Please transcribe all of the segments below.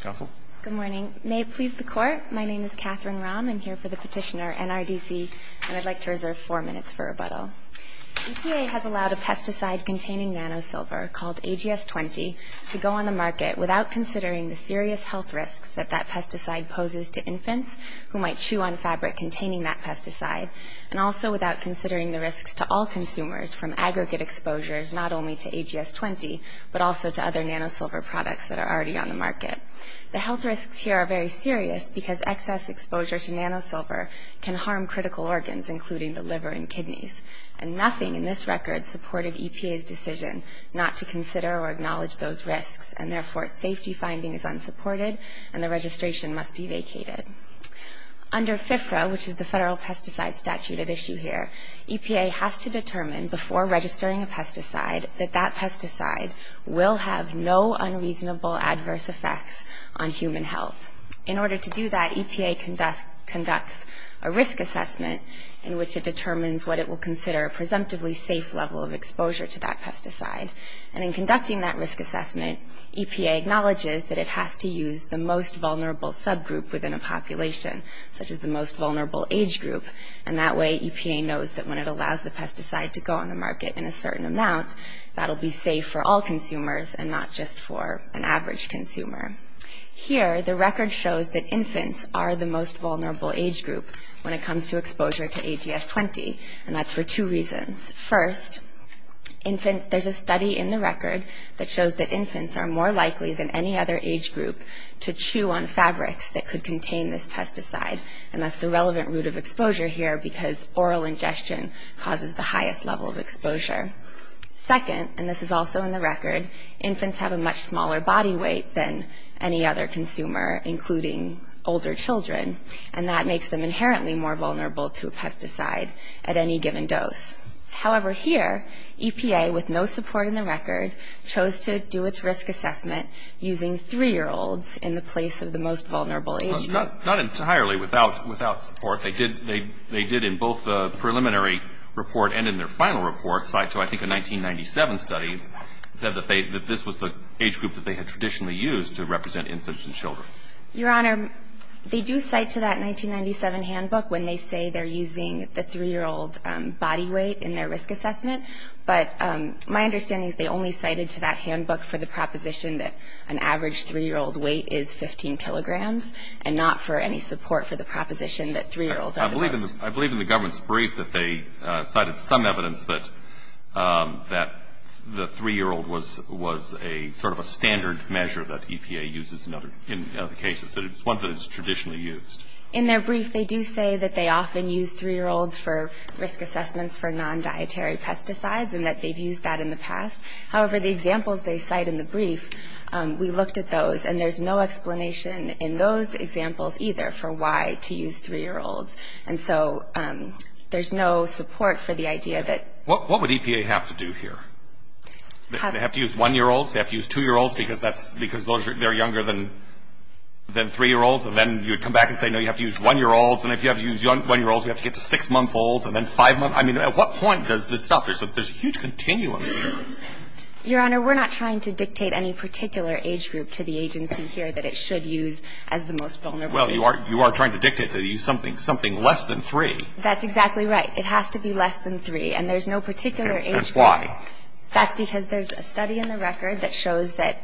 Council. Good morning. May it please the Court, my name is Katherine Rahm. I'm here for the petitioner NRDC, and I'd like to reserve four minutes for rebuttal. EPA has allowed a pesticide containing nanosilver called AGS-20 to go on the market without considering the serious health risks that that pesticide poses to infants who might chew on fabric containing that pesticide, and also without considering the risks to all consumers from aggregate exposures not only to AGS-20, but also to other nanosilver products that are already on the market. The health risks here are very serious because excess exposure to nanosilver can harm critical organs, including the liver and kidneys. And nothing in this record supported EPA's decision not to consider or acknowledge those risks, and therefore its safety finding is unsupported, and the registration must be vacated. Under FFRA, which is the federal pesticide statute at issue here, EPA has to determine before registering a pesticide that that pesticide will have no unreasonable adverse effects on human health. In order to do that, EPA conducts a risk assessment in which it determines what it will consider a presumptively safe level of exposure to that pesticide. And in conducting that risk assessment, EPA acknowledges that it has to use the most vulnerable subgroup within a population, such as the most vulnerable age group, and that way EPA knows that when it allows the pesticide to go on the market in a certain amount, that'll be safe for all consumers and not just for an average consumer. Here, the record shows that infants are the most vulnerable age group when it comes to exposure to AGS-20, and that's for two reasons. First, infants – there's a study in the record that shows that infants are more likely than any other age group to chew on fabrics that could contain this pesticide, and that's the relevant route of exposure here because oral ingestion causes the highest level of exposure. Second, and this is also in the record, infants have a much smaller body weight than any other consumer, including older children, and that makes them inherently more vulnerable to a pesticide at any given dose. However, here, EPA, with no support in the record, chose to do its risk assessment using three-year-olds in the place of the most vulnerable age group. Not entirely without support. They did in both the preliminary report and in their final report cite to, I think, a 1997 study that said that this was the age group that they had traditionally used to represent infants and children. Your Honor, they do cite to that 1997 handbook when they say they're using the three-year-old body weight in their risk assessment. But my understanding is they only cited to that handbook for the proposition that an average three-year-old weight is 15 kilograms, and not for any support for the proposition that three-year-olds are the most. I believe in the government's brief that they cited some evidence that the three-year-old was a sort of a standard measure that EPA uses in other cases, that it's one that is traditionally used. In their brief, they do say that they often use three-year-olds for risk assessments for non-dietary pesticides and that they've used that in the past. However, the examples they cite in the brief, we looked at those, and there's no explanation in those examples either for why to use three-year-olds. And so there's no support for the idea that ‑‑ What would EPA have to do here? They have to use one-year-olds? They have to use two-year-olds because they're younger than three-year-olds? And then you would come back and say, no, you have to use one-year-olds. And if you have to use one-year-olds, you have to get to six-month-olds, and then five-months. I mean, at what point does this stop? I mean, there's a huge continuum here. Your Honor, we're not trying to dictate any particular age group to the agency here that it should use as the most vulnerable age group. Well, you are trying to dictate to use something less than three. That's exactly right. It has to be less than three, and there's no particular age group. And why? That's because there's a study in the record that shows that,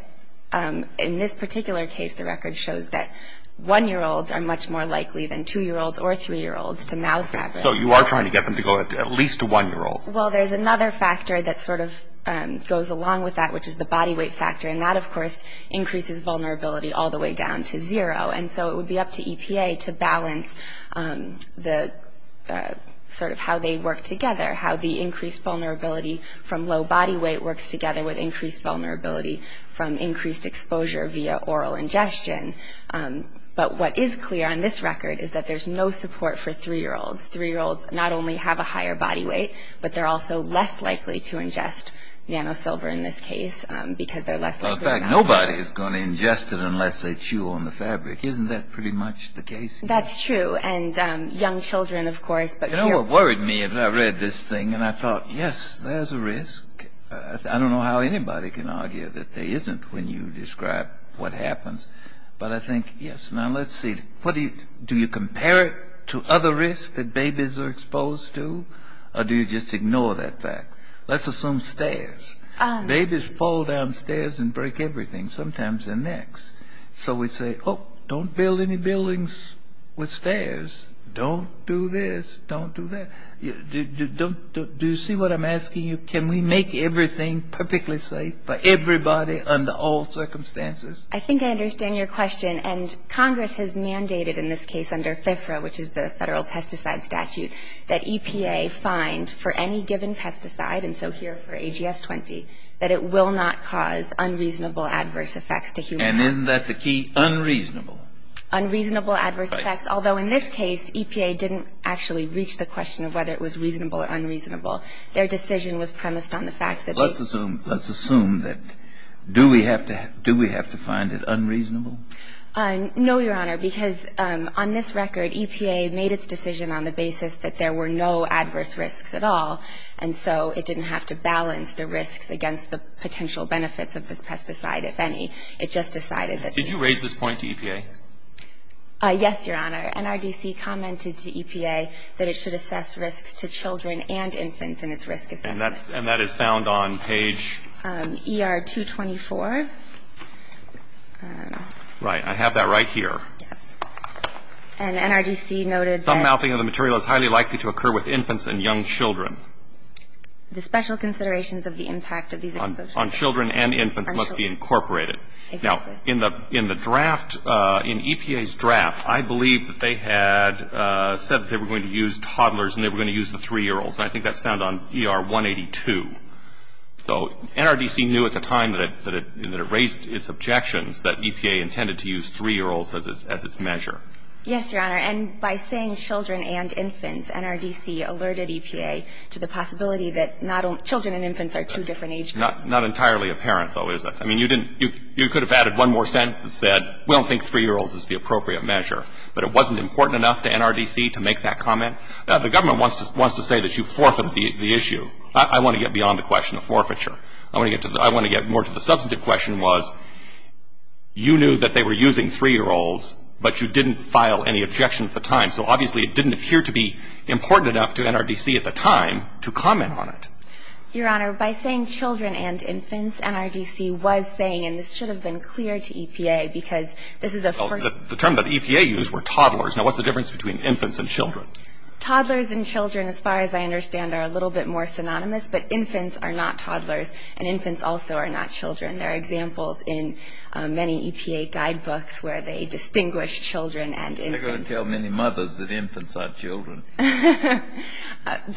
in this particular case, the record shows that one-year-olds are much more likely than two-year-olds or three-year-olds to mouth that. So you are trying to get them to go at least to one-year-olds? Well, there's another factor that sort of goes along with that, which is the body weight factor. And that, of course, increases vulnerability all the way down to zero. And so it would be up to EPA to balance the sort of how they work together, how the increased vulnerability from low body weight works together with increased vulnerability from increased exposure via oral ingestion. But what is clear on this record is that there's no support for three-year-olds. Three-year-olds not only have a higher body weight, but they're also less likely to ingest nanosilver in this case because they're less likely to mouth it. In fact, nobody is going to ingest it unless they chew on the fabric. Isn't that pretty much the case here? That's true. And young children, of course. You know, it worried me as I read this thing, and I thought, yes, there's a risk. I don't know how anybody can argue that there isn't when you describe what happens. But I think, yes. Now, let's see. Do you compare it to other risks that babies are exposed to, or do you just ignore that fact? Let's assume stairs. Babies fall down stairs and break everything. Sometimes their necks. So we say, oh, don't build any buildings with stairs. Don't do this. Don't do that. Do you see what I'm asking you? Can we make everything perfectly safe for everybody under all circumstances? I think I understand your question. And Congress has mandated in this case under FIFRA, which is the Federal Pesticide Statute, that EPA find for any given pesticide, and so here for AGS-20, that it will not cause unreasonable adverse effects to humans. And isn't that the key? Unreasonable. Unreasonable adverse effects, although in this case, EPA didn't actually reach the question of whether it was reasonable or unreasonable. Their decision was premised on the fact that the ---- Let's assume that. Do we have to find it unreasonable? No, Your Honor, because on this record, EPA made its decision on the basis that there were no adverse risks at all, and so it didn't have to balance the risks against the potential benefits of this pesticide, if any. It just decided that ---- Did you raise this point to EPA? Yes, Your Honor. NRDC commented to EPA that it should assess risks to children and infants in its risk assessment. And that is found on page ---- ER-224. Right. I have that right here. Yes. And NRDC noted that ---- Thumb-mouthing of the material is highly likely to occur with infants and young children. The special considerations of the impact of these exposures ---- On children and infants must be incorporated. Exactly. Now, in the draft, in EPA's draft, I believe that they had said they were going to use toddlers and they were going to use the 3-year-olds. And I think that's found on ER-182. So NRDC knew at the time that it raised its objections that EPA intended to use 3-year-olds as its measure. Yes, Your Honor. And by saying children and infants, NRDC alerted EPA to the possibility that children and infants are two different age groups. Not entirely apparent, though, is it? I mean, you didn't ---- you could have added one more sentence that said, we don't think 3-year-olds is the appropriate measure. But it wasn't important enough to NRDC to make that comment? The government wants to say that you forfeit the issue. I want to get beyond the question of forfeiture. I want to get to the ---- I want to get more to the substantive question was you knew that they were using 3-year-olds, but you didn't file any objection at the time. So obviously, it didn't appear to be important enough to NRDC at the time to comment on it. Your Honor, by saying children and infants, NRDC was saying, and this should have been clear to EPA, because this is a first ---- The term that EPA used were toddlers. Now, what's the difference between infants and children? Toddlers and children, as far as I understand, are a little bit more synonymous. But infants are not toddlers, and infants also are not children. There are examples in many EPA guidebooks where they distinguish children and infants. You're not going to tell many mothers that infants aren't children.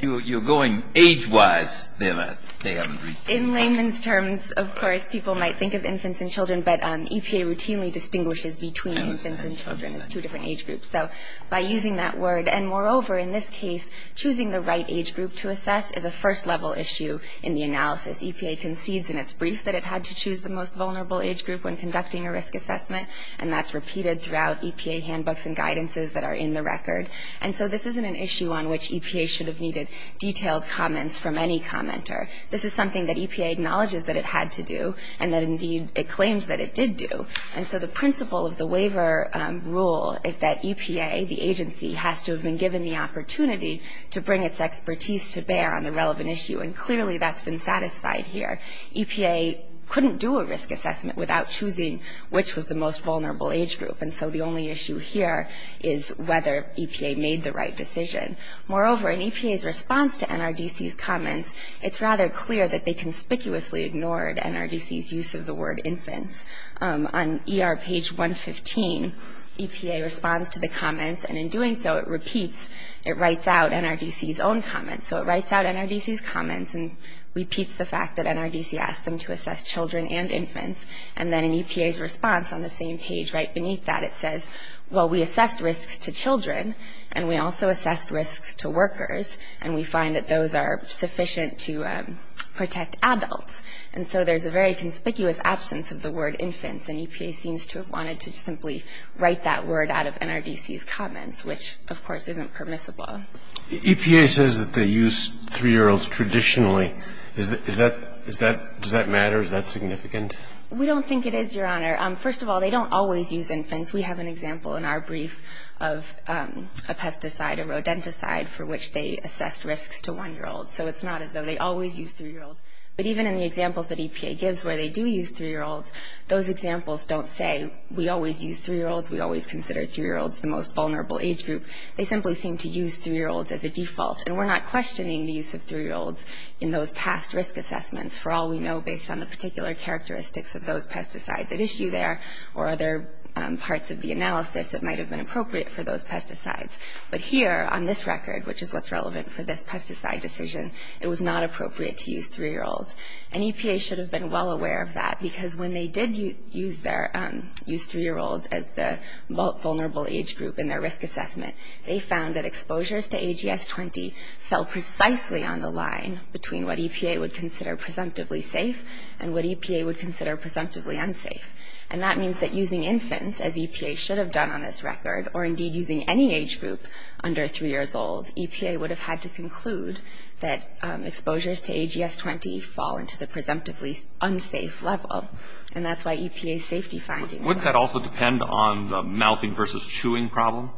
You're going age-wise. They haven't reached that. In layman's terms, of course, people might think of infants and children, but EPA routinely distinguishes between infants and children as two different age groups. So by using that word ---- And moreover, in this case, choosing the right age group to assess is a first-level issue in the analysis. EPA concedes in its brief that it had to choose the most vulnerable age group when conducting a risk assessment, and that's repeated throughout EPA handbooks and guidances that are in the record. And so this isn't an issue on which EPA should have needed detailed comments from any commenter. This is something that EPA acknowledges that it had to do, and that indeed it claims that it did do. And so the principle of the waiver rule is that EPA, the agency, has to have been given the opportunity to bring its expertise to bear on the relevant issue, and clearly that's been satisfied here. EPA couldn't do a risk assessment without choosing which was the most vulnerable age group, and so the only issue here is whether EPA made the right decision. Moreover, in EPA's response to NRDC's comments, it's rather clear that they 115, EPA responds to the comments, and in doing so, it repeats, it writes out NRDC's own comments. So it writes out NRDC's comments and repeats the fact that NRDC asked them to assess children and infants, and then in EPA's response on the same page right beneath that, it says, well, we assessed risks to children, and we also assessed risks to workers, and we find that those are sufficient to protect adults. And so there's a very conspicuous absence of the word infants, and EPA seems to have wanted to simply write that word out of NRDC's comments, which, of course, isn't permissible. EPA says that they use 3-year-olds traditionally. Is that does that matter? Is that significant? We don't think it is, Your Honor. First of all, they don't always use infants. We have an example in our brief of a pesticide, a rodenticide, for which they assessed risks to 1-year-olds. So it's not as though they always use 3-year-olds. But even in the examples that EPA gives where they do use 3-year-olds, those examples don't say, we always use 3-year-olds, we always consider 3-year-olds the most vulnerable age group. They simply seem to use 3-year-olds as a default. And we're not questioning the use of 3-year-olds in those past risk assessments for all we know based on the particular characteristics of those pesticides at issue there or other parts of the analysis that might have been appropriate for those pesticides. But here on this record, which is what's relevant for this pesticide decision, it was not appropriate to use 3-year-olds. And EPA should have been well aware of that because when they did use 3-year-olds as the vulnerable age group in their risk assessment, they found that exposures to AGS-20 fell precisely on the line between what EPA would consider presumptively safe and what EPA would consider presumptively unsafe. And that means that using infants, as EPA should have done on this record, or indeed using any age group under 3-years-old, EPA would have had to conclude that exposures to AGS-20 fall into the presumptively unsafe level. And that's why EPA's safety findings. Would that also depend on the mouthing versus chewing problem?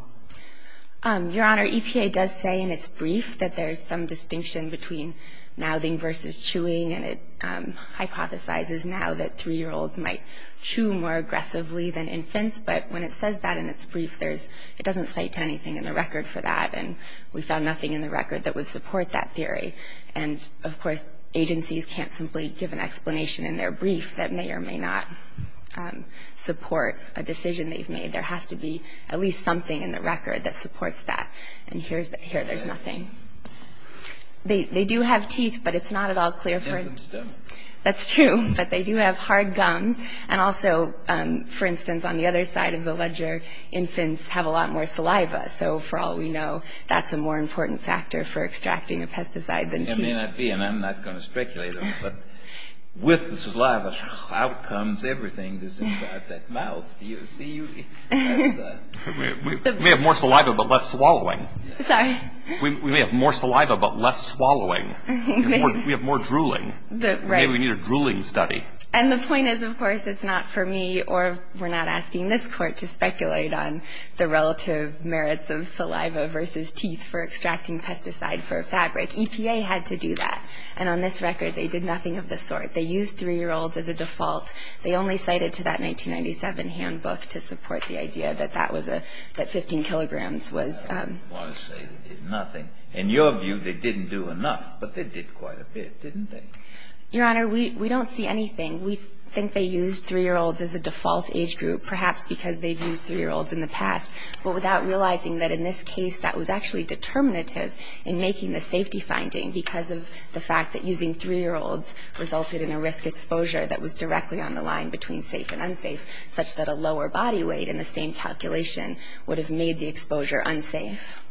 Your Honor, EPA does say in its brief that there's some distinction between mouthing versus chewing, and it hypothesizes now that 3-year-olds might chew more because it doesn't cite anything in the record for that, and we found nothing in the record that would support that theory. And, of course, agencies can't simply give an explanation in their brief that may or may not support a decision they've made. There has to be at least something in the record that supports that. And here there's nothing. They do have teeth, but it's not at all clear for them. That's true. But they do have hard gums. And also, for instance, on the other side of the ledger, infants have a lot more saliva. So, for all we know, that's a more important factor for extracting a pesticide than teeth. It may not be, and I'm not going to speculate on it, but with the saliva out comes everything that's inside that mouth. Do you see? We have more saliva but less swallowing. Sorry. We may have more saliva but less swallowing. We have more drooling. Right. Maybe we need a drooling study. And the point is, of course, it's not for me or we're not asking this Court to speculate on the relative merits of saliva versus teeth for extracting pesticide for a fabric. EPA had to do that. And on this record, they did nothing of the sort. They used 3-year-olds as a default. They only cited to that 1997 handbook to support the idea that that was a, that 15 kilograms was. I want to say that there's nothing. In your view, they didn't do enough, but they did quite a bit, didn't they? Your Honor, we don't see anything. We think they used 3-year-olds as a default age group, perhaps because they've used 3-year-olds in the past, but without realizing that in this case that was actually determinative in making the safety finding because of the fact that using 3-year-olds resulted in a risk exposure that was directly on the line between safe and unsafe, such that a lower body weight in the same calculation would have made the exposure unsafe.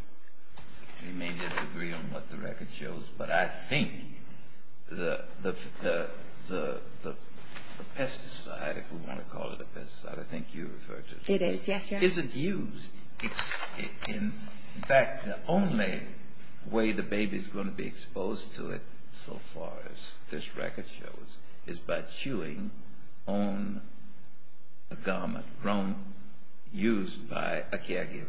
We may disagree on what the record shows, but I think the pesticide, if we want to call it a pesticide, I think you referred to it. It is, yes, Your Honor. Isn't used. In fact, the only way the baby's going to be exposed to it so far as this record shows is by chewing on a garment grown, used by a caregiver.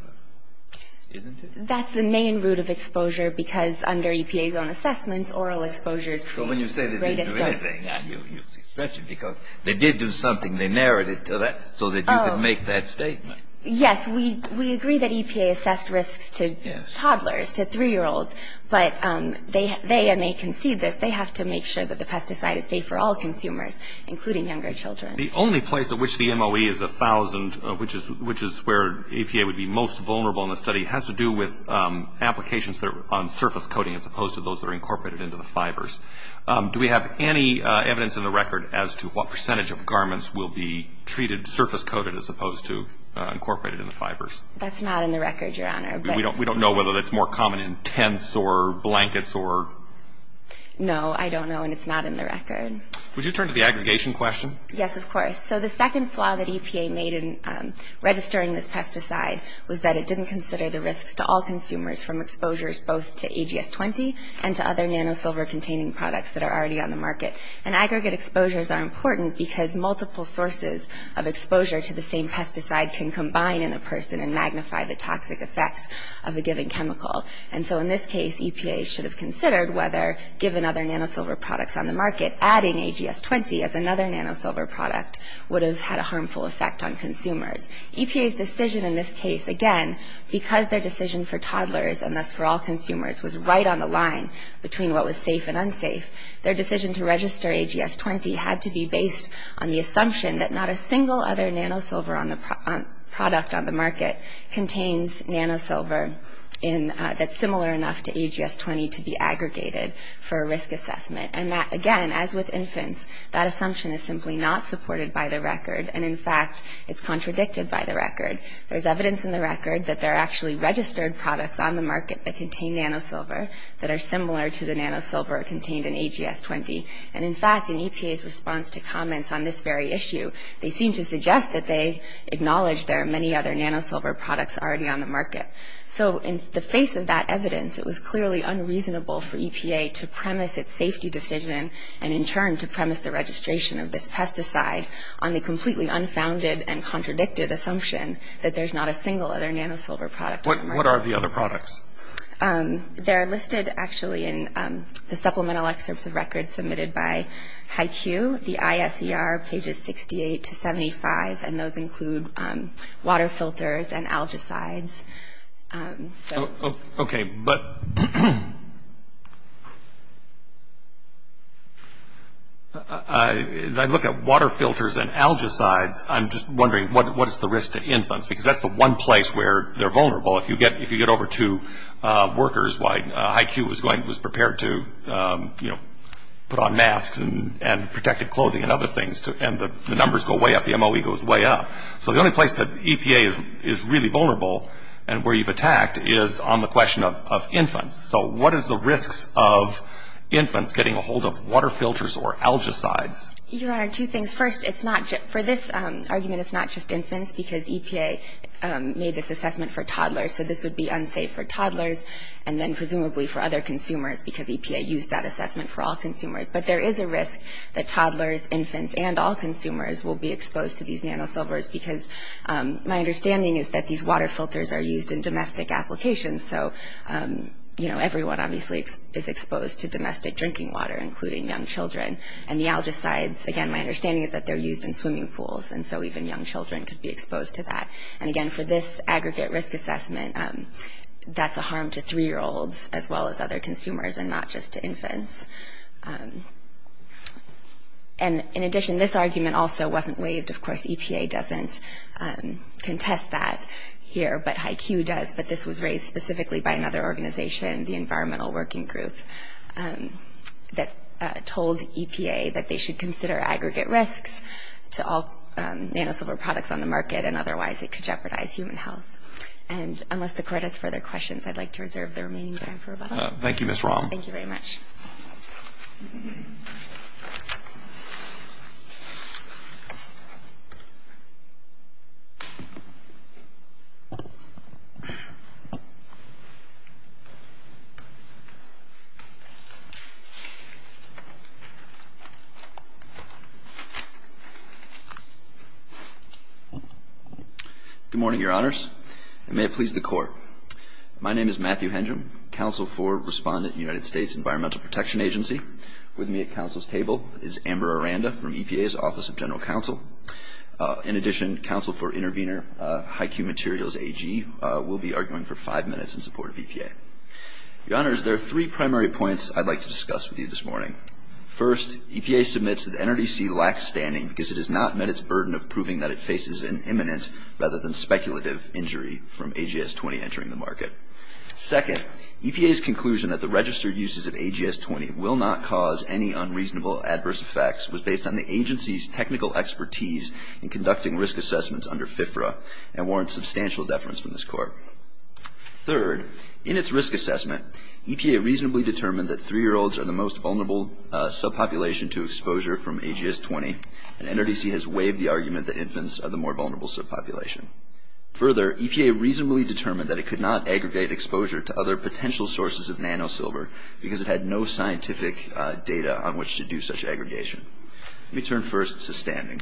Isn't it? That's the main route of exposure because under EPA's own assessments, oral exposures create the greatest dose. So when you say that they didn't do anything, you stretch it because they did do something. They narrated to that so that you could make that statement. Yes, we agree that EPA assessed risks to toddlers, to 3-year-olds, but they, and they concede this, they have to make sure that the pesticide is safe for all consumers, including younger children. The only place at which the MOE is 1,000, which is where EPA would be most vulnerable in the study, has to do with applications on surface coating as opposed to those that are incorporated into the fibers. Do we have any evidence in the record as to what percentage of garments will be treated surface coated as opposed to incorporated in the fibers? That's not in the record, Your Honor. We don't know whether that's more common in tents or blankets or? No, I don't know, and it's not in the record. Would you turn to the aggregation question? Yes, of course. So the second flaw that EPA made in registering this pesticide was that it didn't consider the risks to all consumers from exposures both to AGS-20 and to other nanosilver-containing products that are already on the market. And aggregate exposures are important because multiple sources of exposure to the same pesticide can combine in a person and magnify the toxic effects of a given chemical. And so in this case, EPA should have considered whether, given other nanosilver products on the market, adding AGS-20 as another nanosilver product would have had a harmful effect on consumers. EPA's decision in this case, again, because their decision for toddlers and thus for all consumers was right on the line between what was safe and unsafe, their decision to register AGS-20 had to be based on the assumption that not a single other nanosilver product on the market contains nanosilver that's similar enough to AGS-20 to be aggregated for a risk assessment. And that, again, as with infants, that assumption is simply not supported by the record. And in fact, it's contradicted by the record. There's evidence in the record that there are actually registered products on the market that contain nanosilver that are similar to the nanosilver contained in AGS-20. And in fact, in EPA's response to comments on this very issue, they seem to suggest that they acknowledge there are many other nanosilver products already on the market. So in the face of that evidence, it was clearly unreasonable for EPA to premise its safety decision and, in turn, to premise the registration of this pesticide on the completely unfounded and contradicted assumption that there's not a single other nanosilver product on the market. What are the other products? They're listed, actually, in the supplemental excerpts of records submitted by HYCU. The ISER pages 68 to 75, and those include water filters and algicides. Okay, but as I look at water filters and algicides, I'm just wondering, what is the risk to infants? Because that's the one place where they're vulnerable. If you get over to workers, HYCU was prepared to, you know, put on masks and protected clothing and other things, and the numbers go way up, the MOE goes way up. So the only place that EPA is really vulnerable and where you've attacked is on the question of infants. So what is the risks of infants getting a hold of water filters or algicides? Your Honor, two things. First, for this argument, it's not just infants because EPA made this assessment for toddlers, so this would be unsafe for toddlers, and then presumably for other consumers because EPA used that assessment for all consumers. But there is a risk that toddlers, infants, and all consumers will be exposed to these nanosilvers because my understanding is that these water filters are used in domestic applications. So, you know, everyone obviously is exposed to domestic drinking water, including young children. And the algicides, again, my understanding is that they're used in swimming pools, and so even young children could be exposed to that. And, again, for this aggregate risk assessment, that's a harm to 3-year-olds as well as other consumers and not just to infants. And, in addition, this argument also wasn't waived. Of course, EPA doesn't contest that here, but HiQ does, but this was raised specifically by another organization, the Environmental Working Group, that told EPA that they should consider aggregate risks to all nanosilver products on the market, and otherwise it could jeopardize human health. And unless the Court has further questions, I'd like to reserve the remaining time for about a minute. Thank you, Ms. Rom. Thank you very much. Good morning, Your Honors, and may it please the Court. My name is Matthew Hendrum, counsel for Respondent United States Environmental Protection Agency. With me at counsel's table is Amber Aranda from EPA's Office of General Counsel. In addition, counsel for intervener HiQ Materials AG will be arguing for five minutes in support of EPA. Your Honors, there are three primary points I'd like to discuss with you this morning. First, EPA submits that NRDC lacks standing because it has not met its burden of proving that it faces an imminent rather than speculative injury from AGS-20 entering the market. Second, EPA's conclusion that the registered uses of AGS-20 will not cause any unreasonable adverse effects was based on the agency's technical expertise in conducting risk assessments under FFRA and warrants substantial deference from this Court. Third, in its risk assessment, EPA reasonably determined that 3-year-olds are the most vulnerable subpopulation to exposure from AGS-20, and NRDC has waived the argument that infants are the more vulnerable subpopulation. Further, EPA reasonably determined that it could not aggregate exposure to other potential sources of nanosilver because it had no scientific data on which to do such aggregation. Let me turn first to standing.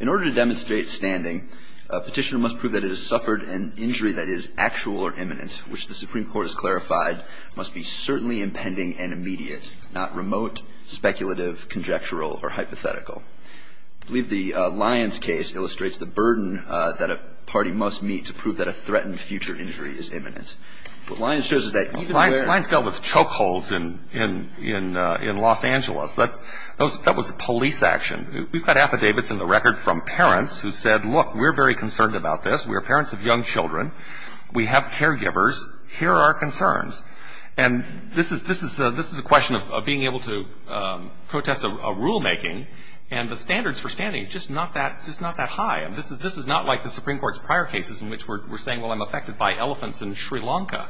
In order to demonstrate standing, a petitioner must prove that it has suffered an injury that is actual or imminent, which the Supreme Court has clarified must be certainly impending and immediate, not remote, speculative, conjectural, or hypothetical. I believe the Lyons case illustrates the burden that a party must meet to prove that a threatened future injury is imminent. What Lyons shows is that even where — Lyons dealt with chokeholds in Los Angeles. That was police action. We've got affidavits in the record from parents who said, look, we're very concerned about this. We are parents of young children. We have caregivers. Here are our concerns. And this is a question of being able to protest a rulemaking, and the standards for standing are just not that high. This is not like the Supreme Court's prior cases in which we're saying, well, I'm affected by elephants in Sri Lanka.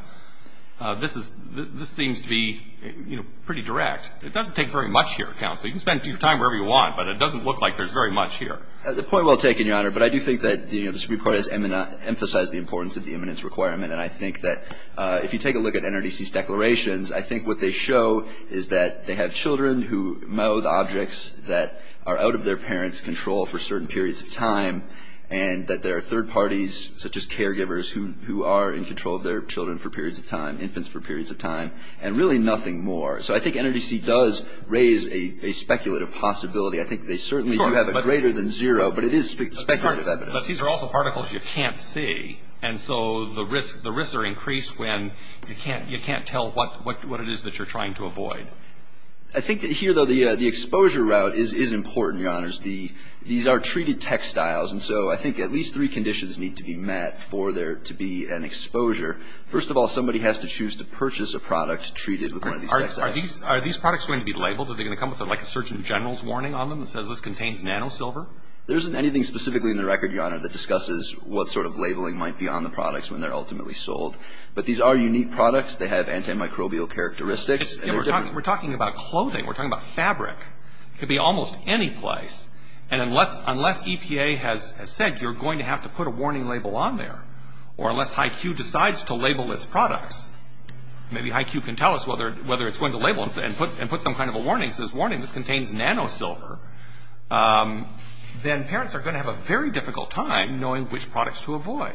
This seems to be, you know, pretty direct. It doesn't take very much here, counsel. You can spend your time wherever you want, but it doesn't look like there's very much here. The point well taken, Your Honor, but I do think that, you know, the Supreme Court has emphasized the importance of the imminence requirement, and I think that if you take a look at NRDC's declarations, I think what they show is that they have children who mow the objects that are out of their parents' control for certain periods of time, and that there are third parties, such as caregivers, who are in control of their children for periods of time, infants for periods of time, and really nothing more. So I think NRDC does raise a speculative possibility. I think they certainly do have a greater than zero, but it is speculative evidence. But these are also particles you can't see, and so the risks are increased when you can't tell what it is that you're trying to avoid. I think here, though, the exposure route is important, Your Honors. These are treated textiles, and so I think at least three conditions need to be met for there to be an exposure. First of all, somebody has to choose to purchase a product treated with one of these textiles. Are these products going to be labeled? Are they going to come with like a surgeon general's warning on them that says this contains nanosilver? There isn't anything specifically in the record, Your Honor, that discusses what sort of labeling might be on the products when they're ultimately sold. But these are unique products. They have antimicrobial characteristics. We're talking about clothing. We're talking about fabric. It could be almost any place. And unless EPA has said you're going to have to put a warning label on there, or unless HYCU decides to label its products, maybe HYCU can tell us whether it's going to label them and put some kind of a warning that says, warning, this contains nanosilver, then parents are going to have a very difficult time knowing which products to avoid.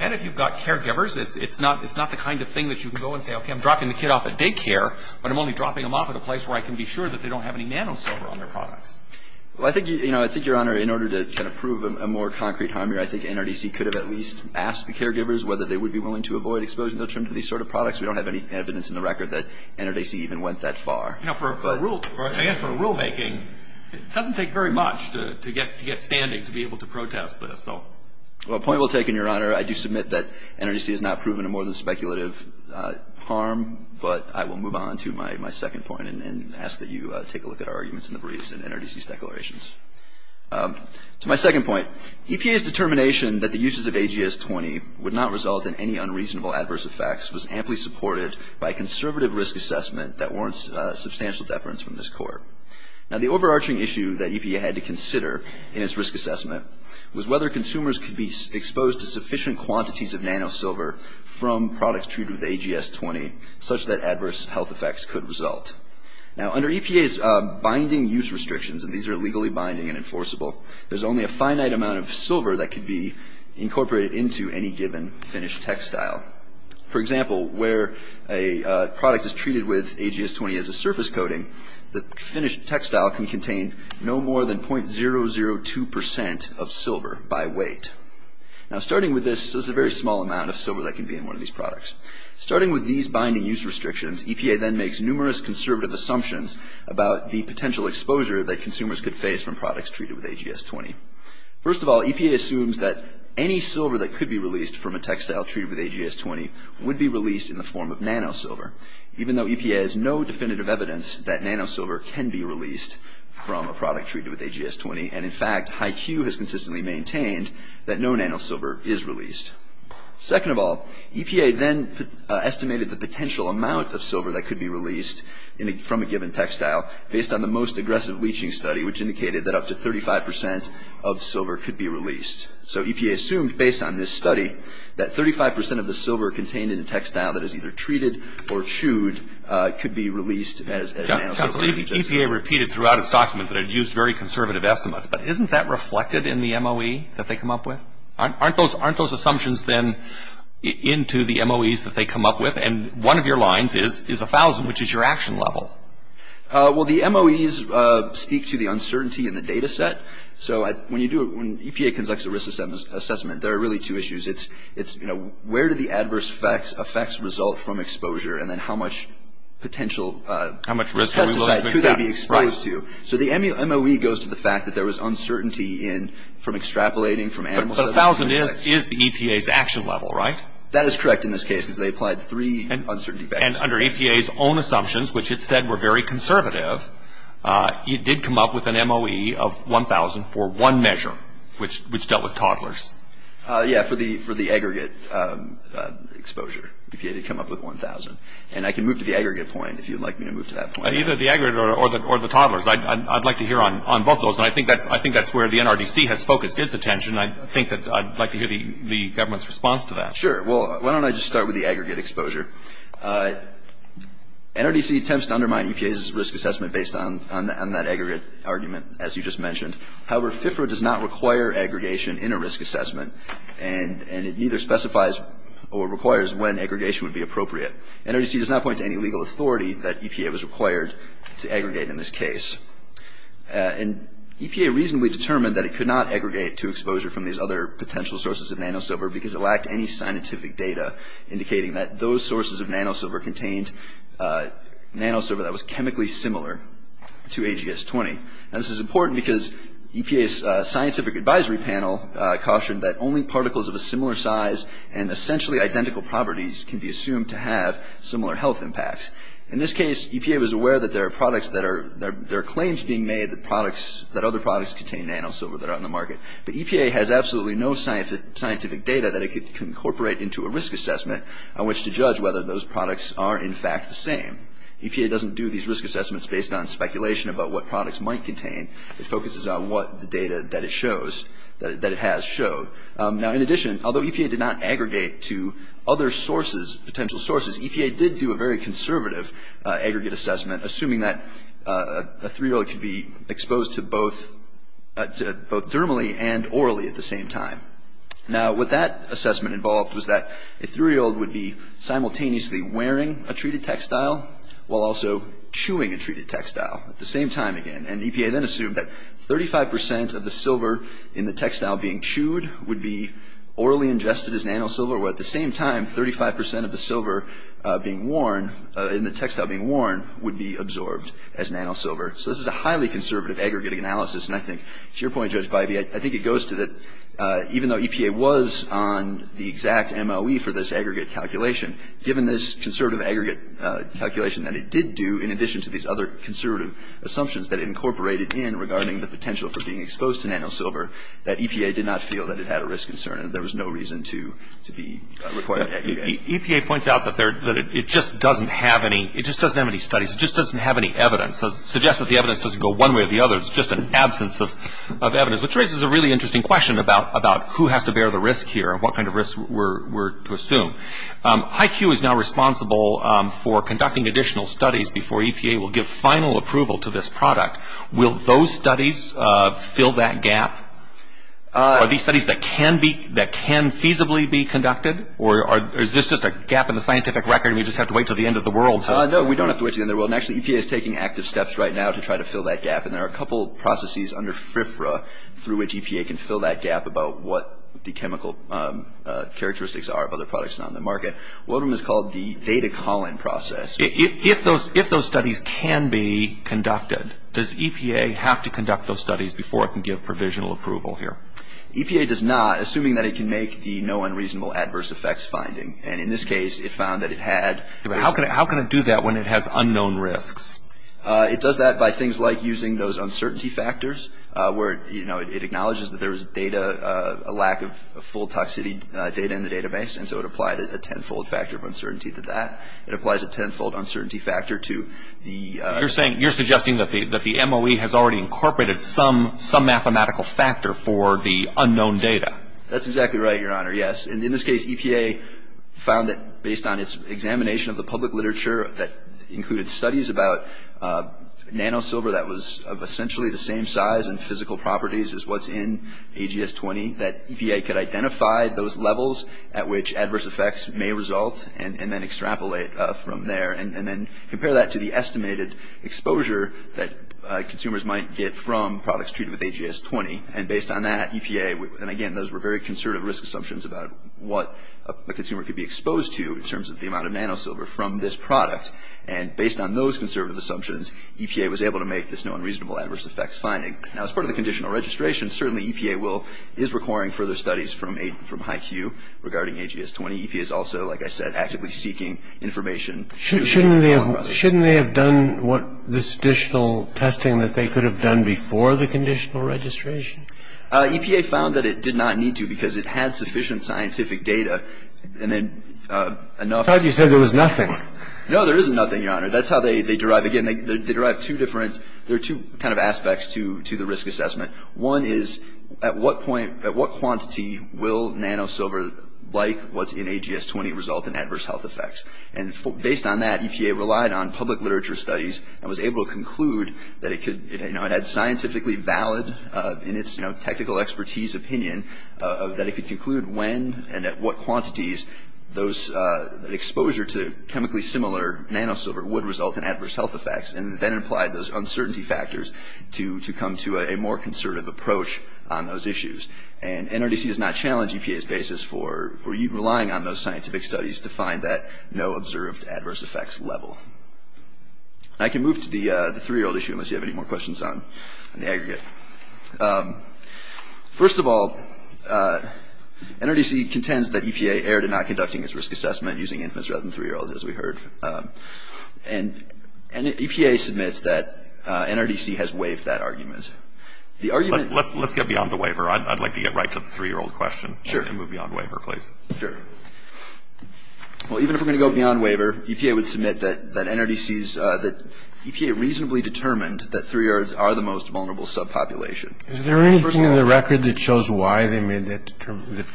And if you've got caregivers, it's not the kind of thing that you can go and say, okay, I'm dropping the kid off at daycare, but I'm only dropping them off at a place where I can be sure that they don't have any nanosilver on their products. Well, I think, Your Honor, in order to kind of prove a more concrete harm here, I think NRDC could have at least asked the caregivers whether they would be willing to avoid exposure. In terms of these sort of products, we don't have any evidence in the record that NRDC even went that far. For rulemaking, it doesn't take very much to get standing to be able to protest this. Well, a point well taken, Your Honor. I do submit that NRDC has not proven a more than speculative harm, but I will move on to my second point and ask that you take a look at our arguments in the briefs and NRDC's declarations. To my second point, EPA's determination that the uses of AGS-20 would not result in any unreasonable adverse effects was amply supported by a conservative risk assessment that warrants substantial deference from this Court. Now, the overarching issue that EPA had to consider in its risk assessment was whether consumers could be exposed to sufficient quantities of nanosilver from products treated with AGS-20 such that adverse health effects could result. Now, under EPA's binding use restrictions, and these are legally binding and enforceable, there's only a finite amount of silver that could be incorporated into any given finished textile. For example, where a product is treated with AGS-20 as a surface coating, the finished textile can contain no more than 0.002 percent of silver by weight. Now, starting with this, there's a very small amount of silver that can be in one of these products. Starting with these binding use restrictions, EPA then makes numerous conservative assumptions about the potential exposure that consumers could face from products treated with AGS-20. First of all, EPA assumes that any silver that could be released from a textile treated with AGS-20 would be released in the form of nanosilver, even though EPA has no definitive evidence that nanosilver can be released from a product treated with AGS-20, and in fact, HYCU has consistently maintained that no nanosilver is released. Second of all, EPA then estimated the potential amount of silver that could be released from a given textile based on the most aggressive leaching study, which indicated that up to 35 percent of silver could be released. So EPA assumed, based on this study, that 35 percent of the silver contained in a textile that is either treated or chewed could be released as nanosilver. EPA repeated throughout its document that it used very conservative estimates, but isn't that reflected in the MOE that they come up with? Aren't those assumptions then into the MOEs that they come up with? And one of your lines is 1,000, which is your action level. Well, the MOEs speak to the uncertainty in the data set. So when EPA conducts a risk assessment, there are really two issues. It's where do the adverse effects result from exposure, and then how much potential pesticide could they be exposed to. So the MOE goes to the fact that there was uncertainty from extrapolating from animal studies. But 1,000 is the EPA's action level, right? That is correct in this case, because they applied three uncertainty factors. And under EPA's own assumptions, which it said were very conservative, it did come up with an MOE of 1,000 for one measure, which dealt with toddlers. Yeah, for the aggregate exposure. EPA did come up with 1,000. And I can move to the aggregate point if you'd like me to move to that point. Either the aggregate or the toddlers. I'd like to hear on both of those, and I think that's where the NRDC has focused its attention. I think that I'd like to hear the government's response to that. Sure. Well, why don't I just start with the aggregate exposure? NRDC attempts to undermine EPA's risk assessment based on that aggregate argument, as you just mentioned. However, FIFRA does not require aggregation in a risk assessment, and it neither specifies or requires when aggregation would be appropriate. NRDC does not point to any legal authority that EPA was required to aggregate in this case. And EPA reasonably determined that it could not aggregate to exposure from these other potential sources of nanosilver because it lacked any scientific data indicating that those sources of nanosilver contained nanosilver that was chemically similar to AGS-20. Now, this is important because EPA's scientific advisory panel cautioned that only particles of a similar size and essentially identical properties can be assumed to have similar health impacts. In this case, EPA was aware that there are claims being made that other products contain nanosilver that are on the market. But EPA has absolutely no scientific data that it could incorporate into a risk assessment on which to judge whether those products are, in fact, the same. EPA doesn't do these risk assessments based on speculation about what products might contain. It focuses on what the data that it shows, that it has showed. Now, in addition, although EPA did not aggregate to other sources, potential sources, EPA did do a very conservative aggregate assessment, assuming that a three-year-old could be exposed to both thermally and orally at the same time. Now, what that assessment involved was that a three-year-old would be simultaneously wearing a treated textile while also chewing a treated textile at the same time again. And EPA then assumed that 35 percent of the silver in the textile being chewed would be orally ingested as nanosilver, while at the same time, 35 percent of the silver being worn in the textile being worn would be absorbed as nanosilver. So this is a highly conservative aggregate analysis. And I think, to your point, Judge Bybee, I think it goes to that even though EPA was on the exact MOE for this aggregate calculation, given this conservative aggregate calculation that it did do in addition to these other conservative assumptions that it incorporated in regarding the potential for being exposed to nanosilver, that EPA did not feel that it had a risk concern and there was no reason to be required to aggregate. EPA points out that it just doesn't have any studies. It just doesn't have any evidence. It suggests that the evidence doesn't go one way or the other. It's just an absence of evidence, which raises a really interesting question about who has to bear the risk here and what kind of risk we're to assume. HYCU is now responsible for conducting additional studies before EPA will give final approval to this product. Will those studies fill that gap? Are these studies that can feasibly be conducted? Or is this just a gap in the scientific record and we just have to wait until the end of the world? No, we don't have to wait until the end of the world. Actually, EPA is taking active steps right now to try to fill that gap. And there are a couple of processes under FRIFRA through which EPA can fill that gap about what the chemical characteristics are of other products on the market. One of them is called the data calling process. If those studies can be conducted, does EPA have to conduct those studies before it can give provisional approval here? EPA does not, assuming that it can make the no unreasonable adverse effects finding. And in this case, it found that it had. How can it do that when it has unknown risks? It does that by things like using those uncertainty factors where, you know, it acknowledges that there was data, a lack of full toxicity data in the database, and so it applied a tenfold factor of uncertainty to that. It applies a tenfold uncertainty factor to the- You're suggesting that the MOE has already incorporated some mathematical factor for the unknown data. That's exactly right, Your Honor, yes. And in this case, EPA found that based on its examination of the public literature that included studies about nanosilver that was essentially the same size and physical properties as what's in AGS-20, that EPA could identify those levels at which adverse effects may result and then extrapolate from there and then compare that to the estimated exposure that consumers might get from products treated with AGS-20. And based on that, EPA- And again, those were very conservative risk assumptions about what a consumer could be exposed to in terms of the amount of nanosilver from this product. And based on those conservative assumptions, EPA was able to make this no unreasonable adverse effects finding. Now, as part of the conditional registration, certainly EPA will- is requiring further studies from IQ regarding AGS-20. EPA is also, like I said, actively seeking information- Shouldn't they have done what- this additional testing that they could have done before the conditional registration? EPA found that it did not need to because it had sufficient scientific data and then enough- I thought you said there was nothing. No, there isn't nothing, Your Honor. That's how they derive- again, they derive two different- there are two kind of aspects to the risk assessment. One is at what point- at what quantity will nanosilver, like what's in AGS-20, result in adverse health effects? And based on that, EPA relied on public literature studies and was able to conclude that it could- it had scientifically valid in its technical expertise opinion that it could conclude when and at what quantities those exposure to chemically similar nanosilver would result in adverse health effects and then applied those uncertainty factors to come to a more conservative approach on those issues. And NRDC does not challenge EPA's basis for relying on those scientific studies to find that no observed adverse effects level. I can move to the three-year-old issue unless you have any more questions on the aggregate. First of all, NRDC contends that EPA erred in not conducting its risk assessment using infants rather than three-year-olds, as we heard. And EPA submits that NRDC has waived that argument. The argument- Let's get beyond the waiver. I'd like to get right to the three-year-old question. Sure. And move beyond waiver, please. Sure. Well, even if we're going to go beyond waiver, EPA would submit that NRDC's- that EPA reasonably determined that three-year-olds are the most vulnerable subpopulation. Is there anything in the record that shows why they made that-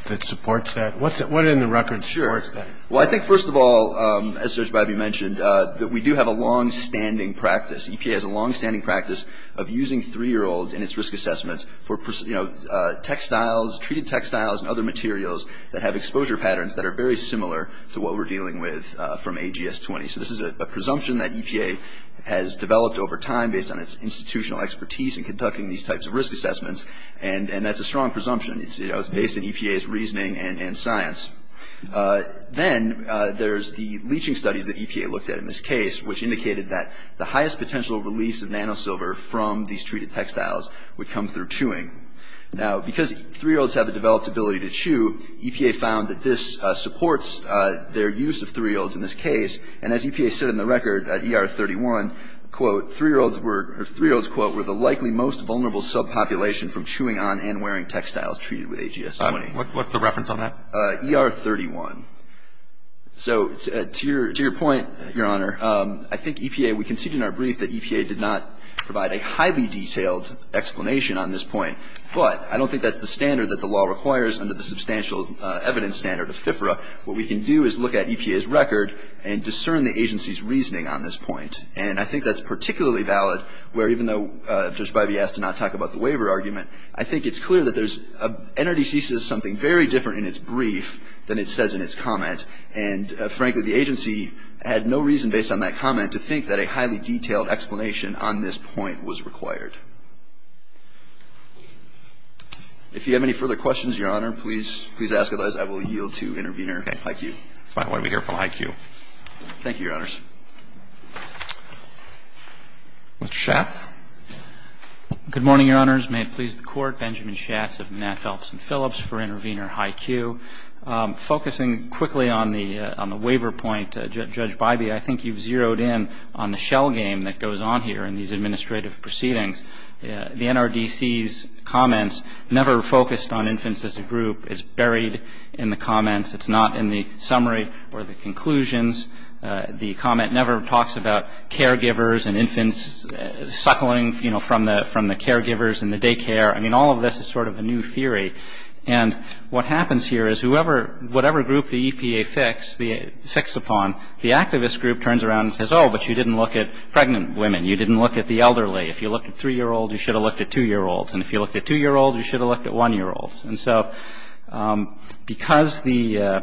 that supports that? What's it- what in the record supports that? Well, I think, first of all, as Serge Briby mentioned, that we do have a longstanding practice. EPA has a longstanding practice of using three-year-olds in its risk assessments for, you know, textiles, treated textiles and other materials that have exposure patterns that are very similar to what we're dealing with from AGS-20. So this is a presumption that EPA has developed over time based on its institutional expertise in conducting these types of risk assessments, and that's a strong presumption. You know, it's based on EPA's reasoning and science. Then there's the leaching studies that EPA looked at in this case, which indicated that the highest potential release of nanosilver from these treated textiles would come through chewing. Now, because three-year-olds have a developed ability to chew, EPA found that this supports their use of three-year-olds in this case, and as EPA said in the record at ER-31, quote, three-year-olds were- three-year-olds, quote, were the likely most vulnerable subpopulation from chewing on and wearing textiles treated with AGS-20. What's the reference on that? ER-31. So to your point, Your Honor, I think EPA, we conceded in our brief that EPA did not provide a highly detailed explanation on this point. But I don't think that's the standard that the law requires under the substantial evidence standard of FIFRA. What we can do is look at EPA's record and discern the agency's reasoning on this point. And I think that's particularly valid where, even though Judge Bybee asked to not talk about the waiver argument, I think it's clear that NRDC says something very different in its brief than it says in its comment. And frankly, the agency had no reason, based on that comment, to think that a highly detailed explanation on this point was required. If you have any further questions, Your Honor, please ask those. I will yield to Intervener Haikyu. That's fine. Why don't we hear from Haikyu. Thank you, Your Honors. Mr. Schatz. Good morning, Your Honors. May it please the Court, Benjamin Schatz of Matt Phelps and Phillips for Intervener Haikyu. Focusing quickly on the waiver point, Judge Bybee, I think you've zeroed in on the shell game that goes on here in these administrative proceedings. The NRDC's comments never focused on infants as a group. It's buried in the comments. It's not in the summary or the conclusions. The comment never talks about caregivers and infants suckling, you know, from the caregivers in the daycare. I mean, all of this is sort of a new theory. And what happens here is whatever group the EPA fix upon, the activist group turns around and says, oh, but you didn't look at pregnant women. You didn't look at the elderly. If you looked at 3-year-olds, you should have looked at 2-year-olds. And if you looked at 2-year-olds, you should have looked at 1-year-olds. And so because the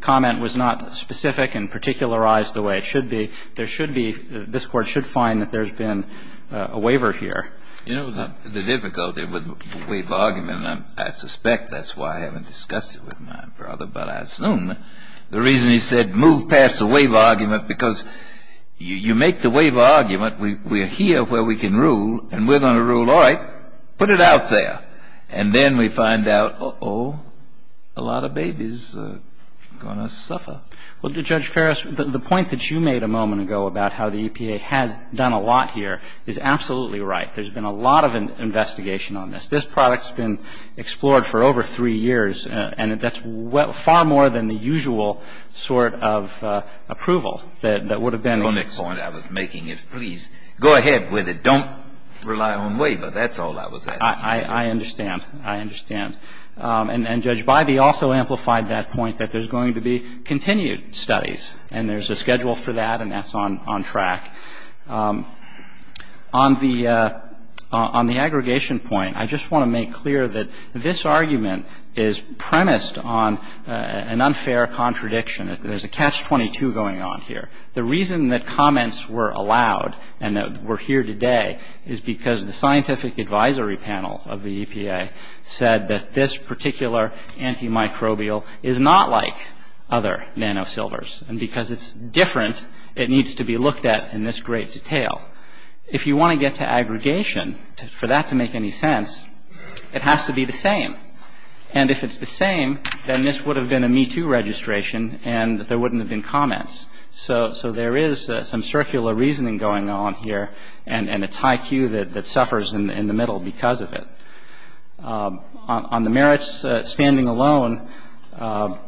comment was not specific and particularized the way it should be, there should be, this Court should find that there's been a waiver here. You know, the difficulty with the waiver argument, and I suspect that's why I haven't discussed it with my brother, but I assume the reason he said move past the waiver argument, because you make the waiver argument, we're here where we can rule, and we're going to rule, all right, put it out there. And then we find out, uh-oh, a lot of babies are going to suffer. Well, Judge Ferris, the point that you made a moment ago about how the EPA has done a lot here is absolutely right. There's been a lot of investigation on this. This product's been explored for over 3 years, and that's far more than the usual sort of approval that would have been. The only point I was making is, please, go ahead with it. Don't rely on waiver. That's all I was asking. I understand. I understand. And Judge Bybee also amplified that point, that there's going to be continued studies, and there's a schedule for that, and that's on track. On the aggregation point, I just want to make clear that this argument is premised on an unfair contradiction. There's a catch-22 going on here. The reason that comments were allowed and that we're here today is because the scientific advisory panel of the EPA said that this particular antimicrobial is not like other nanosilvers, and because it's different, it needs to be looked at in this great detail. If you want to get to aggregation, for that to make any sense, it has to be the same. And if it's the same, then this would have been a Me Too registration, and there wouldn't have been comments. So there is some circular reasoning going on here, and it's high Q that suffers in the middle because of it. On the merits standing alone,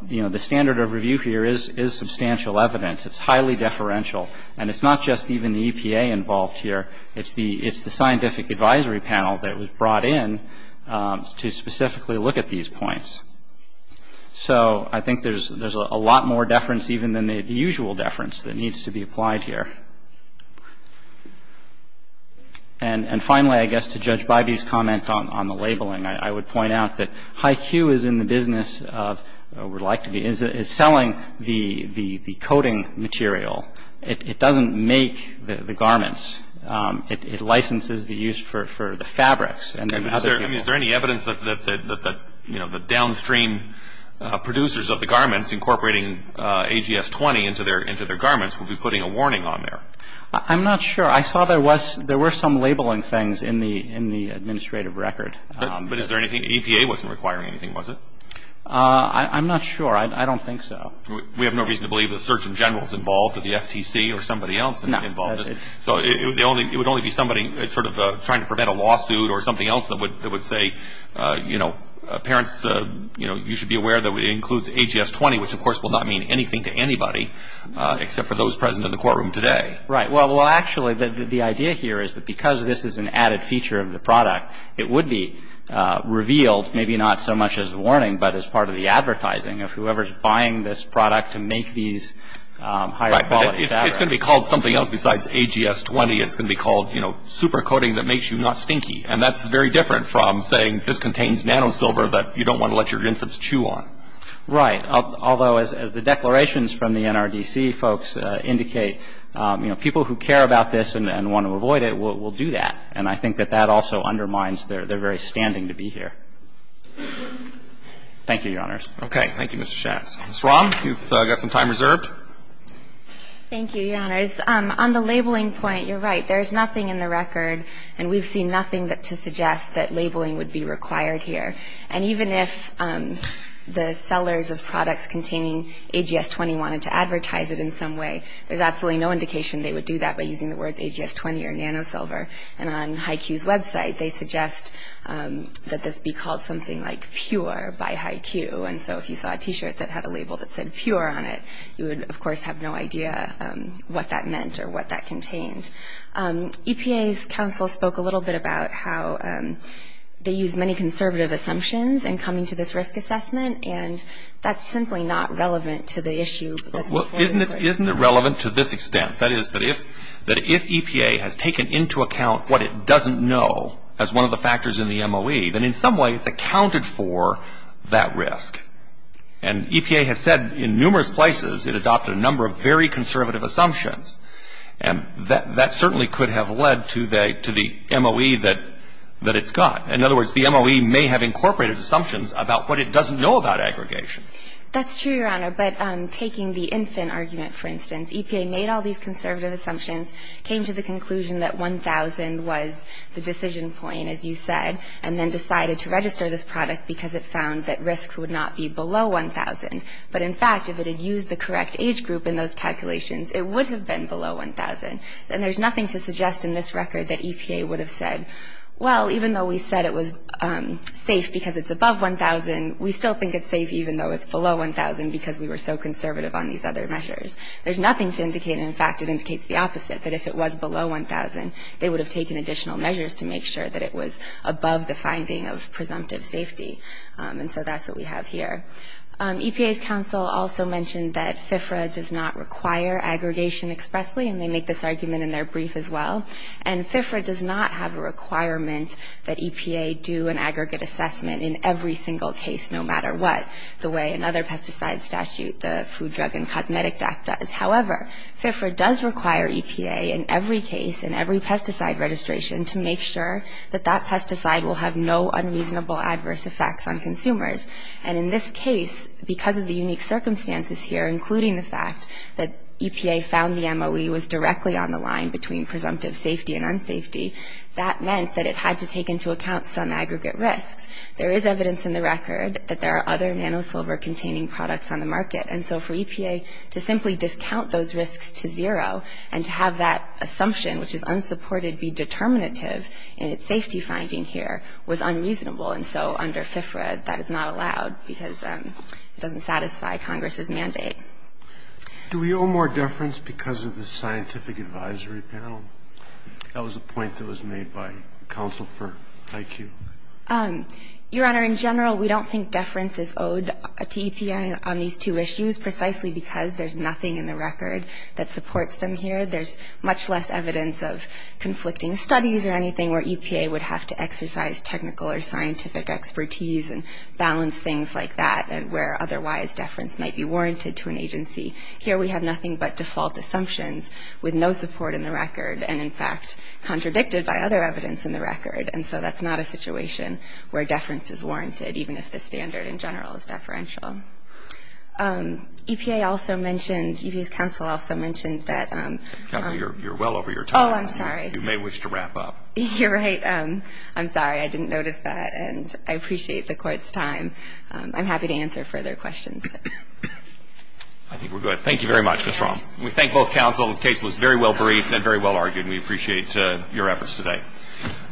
you know, the standard of review here is substantial evidence. It's highly deferential. And it's not just even the EPA involved here. It's the scientific advisory panel that was brought in to specifically look at these points. So I think there's a lot more deference even than the usual deference that needs to be applied here. And finally, I guess to Judge Bybee's comment on the labeling, I would point out that high Q is in the business of, or would like to be, is selling the coating material. It doesn't make the garments. It licenses the use for the fabrics. Is there any evidence that, you know, the downstream producers of the garments incorporating AGS-20 into their garments would be putting a warning on there? I'm not sure. I saw there were some labeling things in the administrative record. But is there anything? EPA wasn't requiring anything, was it? I'm not sure. I don't think so. We have no reason to believe the surgeon general is involved or the FTC or somebody else involved. No. So it would only be somebody sort of trying to prevent a lawsuit or something else that would say, you know, parents, you know, you should be aware that it includes AGS-20, which of course will not mean anything to anybody except for those present in the courtroom today. Right. Well, actually, the idea here is that because this is an added feature of the product, it would be revealed maybe not so much as a warning but as part of the advertising of whoever's buying this product to make these higher quality fabrics. It's going to be called something else besides AGS-20. It's going to be called, you know, super coating that makes you not stinky. And that's very different from saying this contains nanosilver that you don't want to let your infants chew on. Right. Although, as the declarations from the NRDC folks indicate, you know, people who care about this and want to avoid it will do that. And I think that that also undermines their very standing to be here. Thank you, Your Honors. Okay. Thank you, Mr. Shatz. Ms. Rom, you've got some time reserved. Thank you, Your Honors. On the labeling point, you're right. There's nothing in the record, and we've seen nothing to suggest that labeling would be required here. And even if the sellers of products containing AGS-20 wanted to advertise it in some way, there's absolutely no indication they would do that by using the words AGS-20 or nanosilver. And on HYCU's website, they suggest that this be called something like pure by HYCU. And so if you saw a T-shirt that had a label that said pure on it, you would, of course, have no idea what that meant or what that contained. EPA's counsel spoke a little bit about how they use many conservative assumptions in coming to this risk assessment, and that's simply not relevant to the issue. Isn't it relevant to this extent? That is, that if EPA has taken into account what it doesn't know as one of the factors in the MOE, then in some way it's accounted for that risk. And EPA has said in numerous places it adopted a number of very conservative assumptions, and that certainly could have led to the MOE that it's got. In other words, the MOE may have incorporated assumptions about what it doesn't know about aggregation. That's true, Your Honor, but taking the infant argument, for instance, EPA made all these conservative assumptions, came to the conclusion that 1,000 was the decision point, as you said, and then decided to register this product because it found that risks would not be below 1,000. But in fact, if it had used the correct age group in those calculations, it would have been below 1,000. And there's nothing to suggest in this record that EPA would have said, well, even though we said it was safe because it's above 1,000, we still think it's safe even though it's below 1,000 because we were so conservative on these other measures. There's nothing to indicate, in fact, it indicates the opposite, that if it was below 1,000, they would have taken additional measures to make sure that it was above the finding of presumptive safety. And so that's what we have here. EPA's counsel also mentioned that FIFRA does not require aggregation expressly, and they make this argument in their brief as well. And FIFRA does not have a requirement that EPA do an aggregate assessment in every single case, no matter what, the way another pesticide statute, the Food, Drug, and Cosmetic Act, does. However, FIFRA does require EPA in every case, in every pesticide registration, to make sure that that pesticide will have no unreasonable adverse effects on consumers. And in this case, because of the unique circumstances here, including the fact that EPA found the MOE was directly on the line between presumptive safety and unsafety, that meant that it had to take into account some aggregate risks. There is evidence in the record that there are other nanosilver-containing products on the market. And so for EPA to simply discount those risks to zero and to have that assumption, which is unsupported, be determinative in its safety finding here, was unreasonable. And so under FIFRA, that is not allowed because it doesn't satisfy Congress's mandate. Do we owe more deference because of the scientific advisory panel? That was a point that was made by counsel for IQ. Your Honor, in general, we don't think deference is owed to EPA on these two issues, precisely because there's nothing in the record that supports them here. There's much less evidence of conflicting studies or anything where EPA would have to exercise technical or scientific expertise and balance things like that, and where otherwise deference might be warranted to an agency. Here we have nothing but default assumptions with no support in the record, and so that's not a situation where deference is warranted, even if the standard in general is deferential. EPA also mentioned, EPA's counsel also mentioned that... Counsel, you're well over your time. Oh, I'm sorry. You may wish to wrap up. You're right. I'm sorry. I didn't notice that, and I appreciate the court's time. I'm happy to answer further questions. I think we're good. Thank you very much, Ms. Rom. We thank both counsel. The case was very well briefed and very well argued, and we appreciate your efforts today.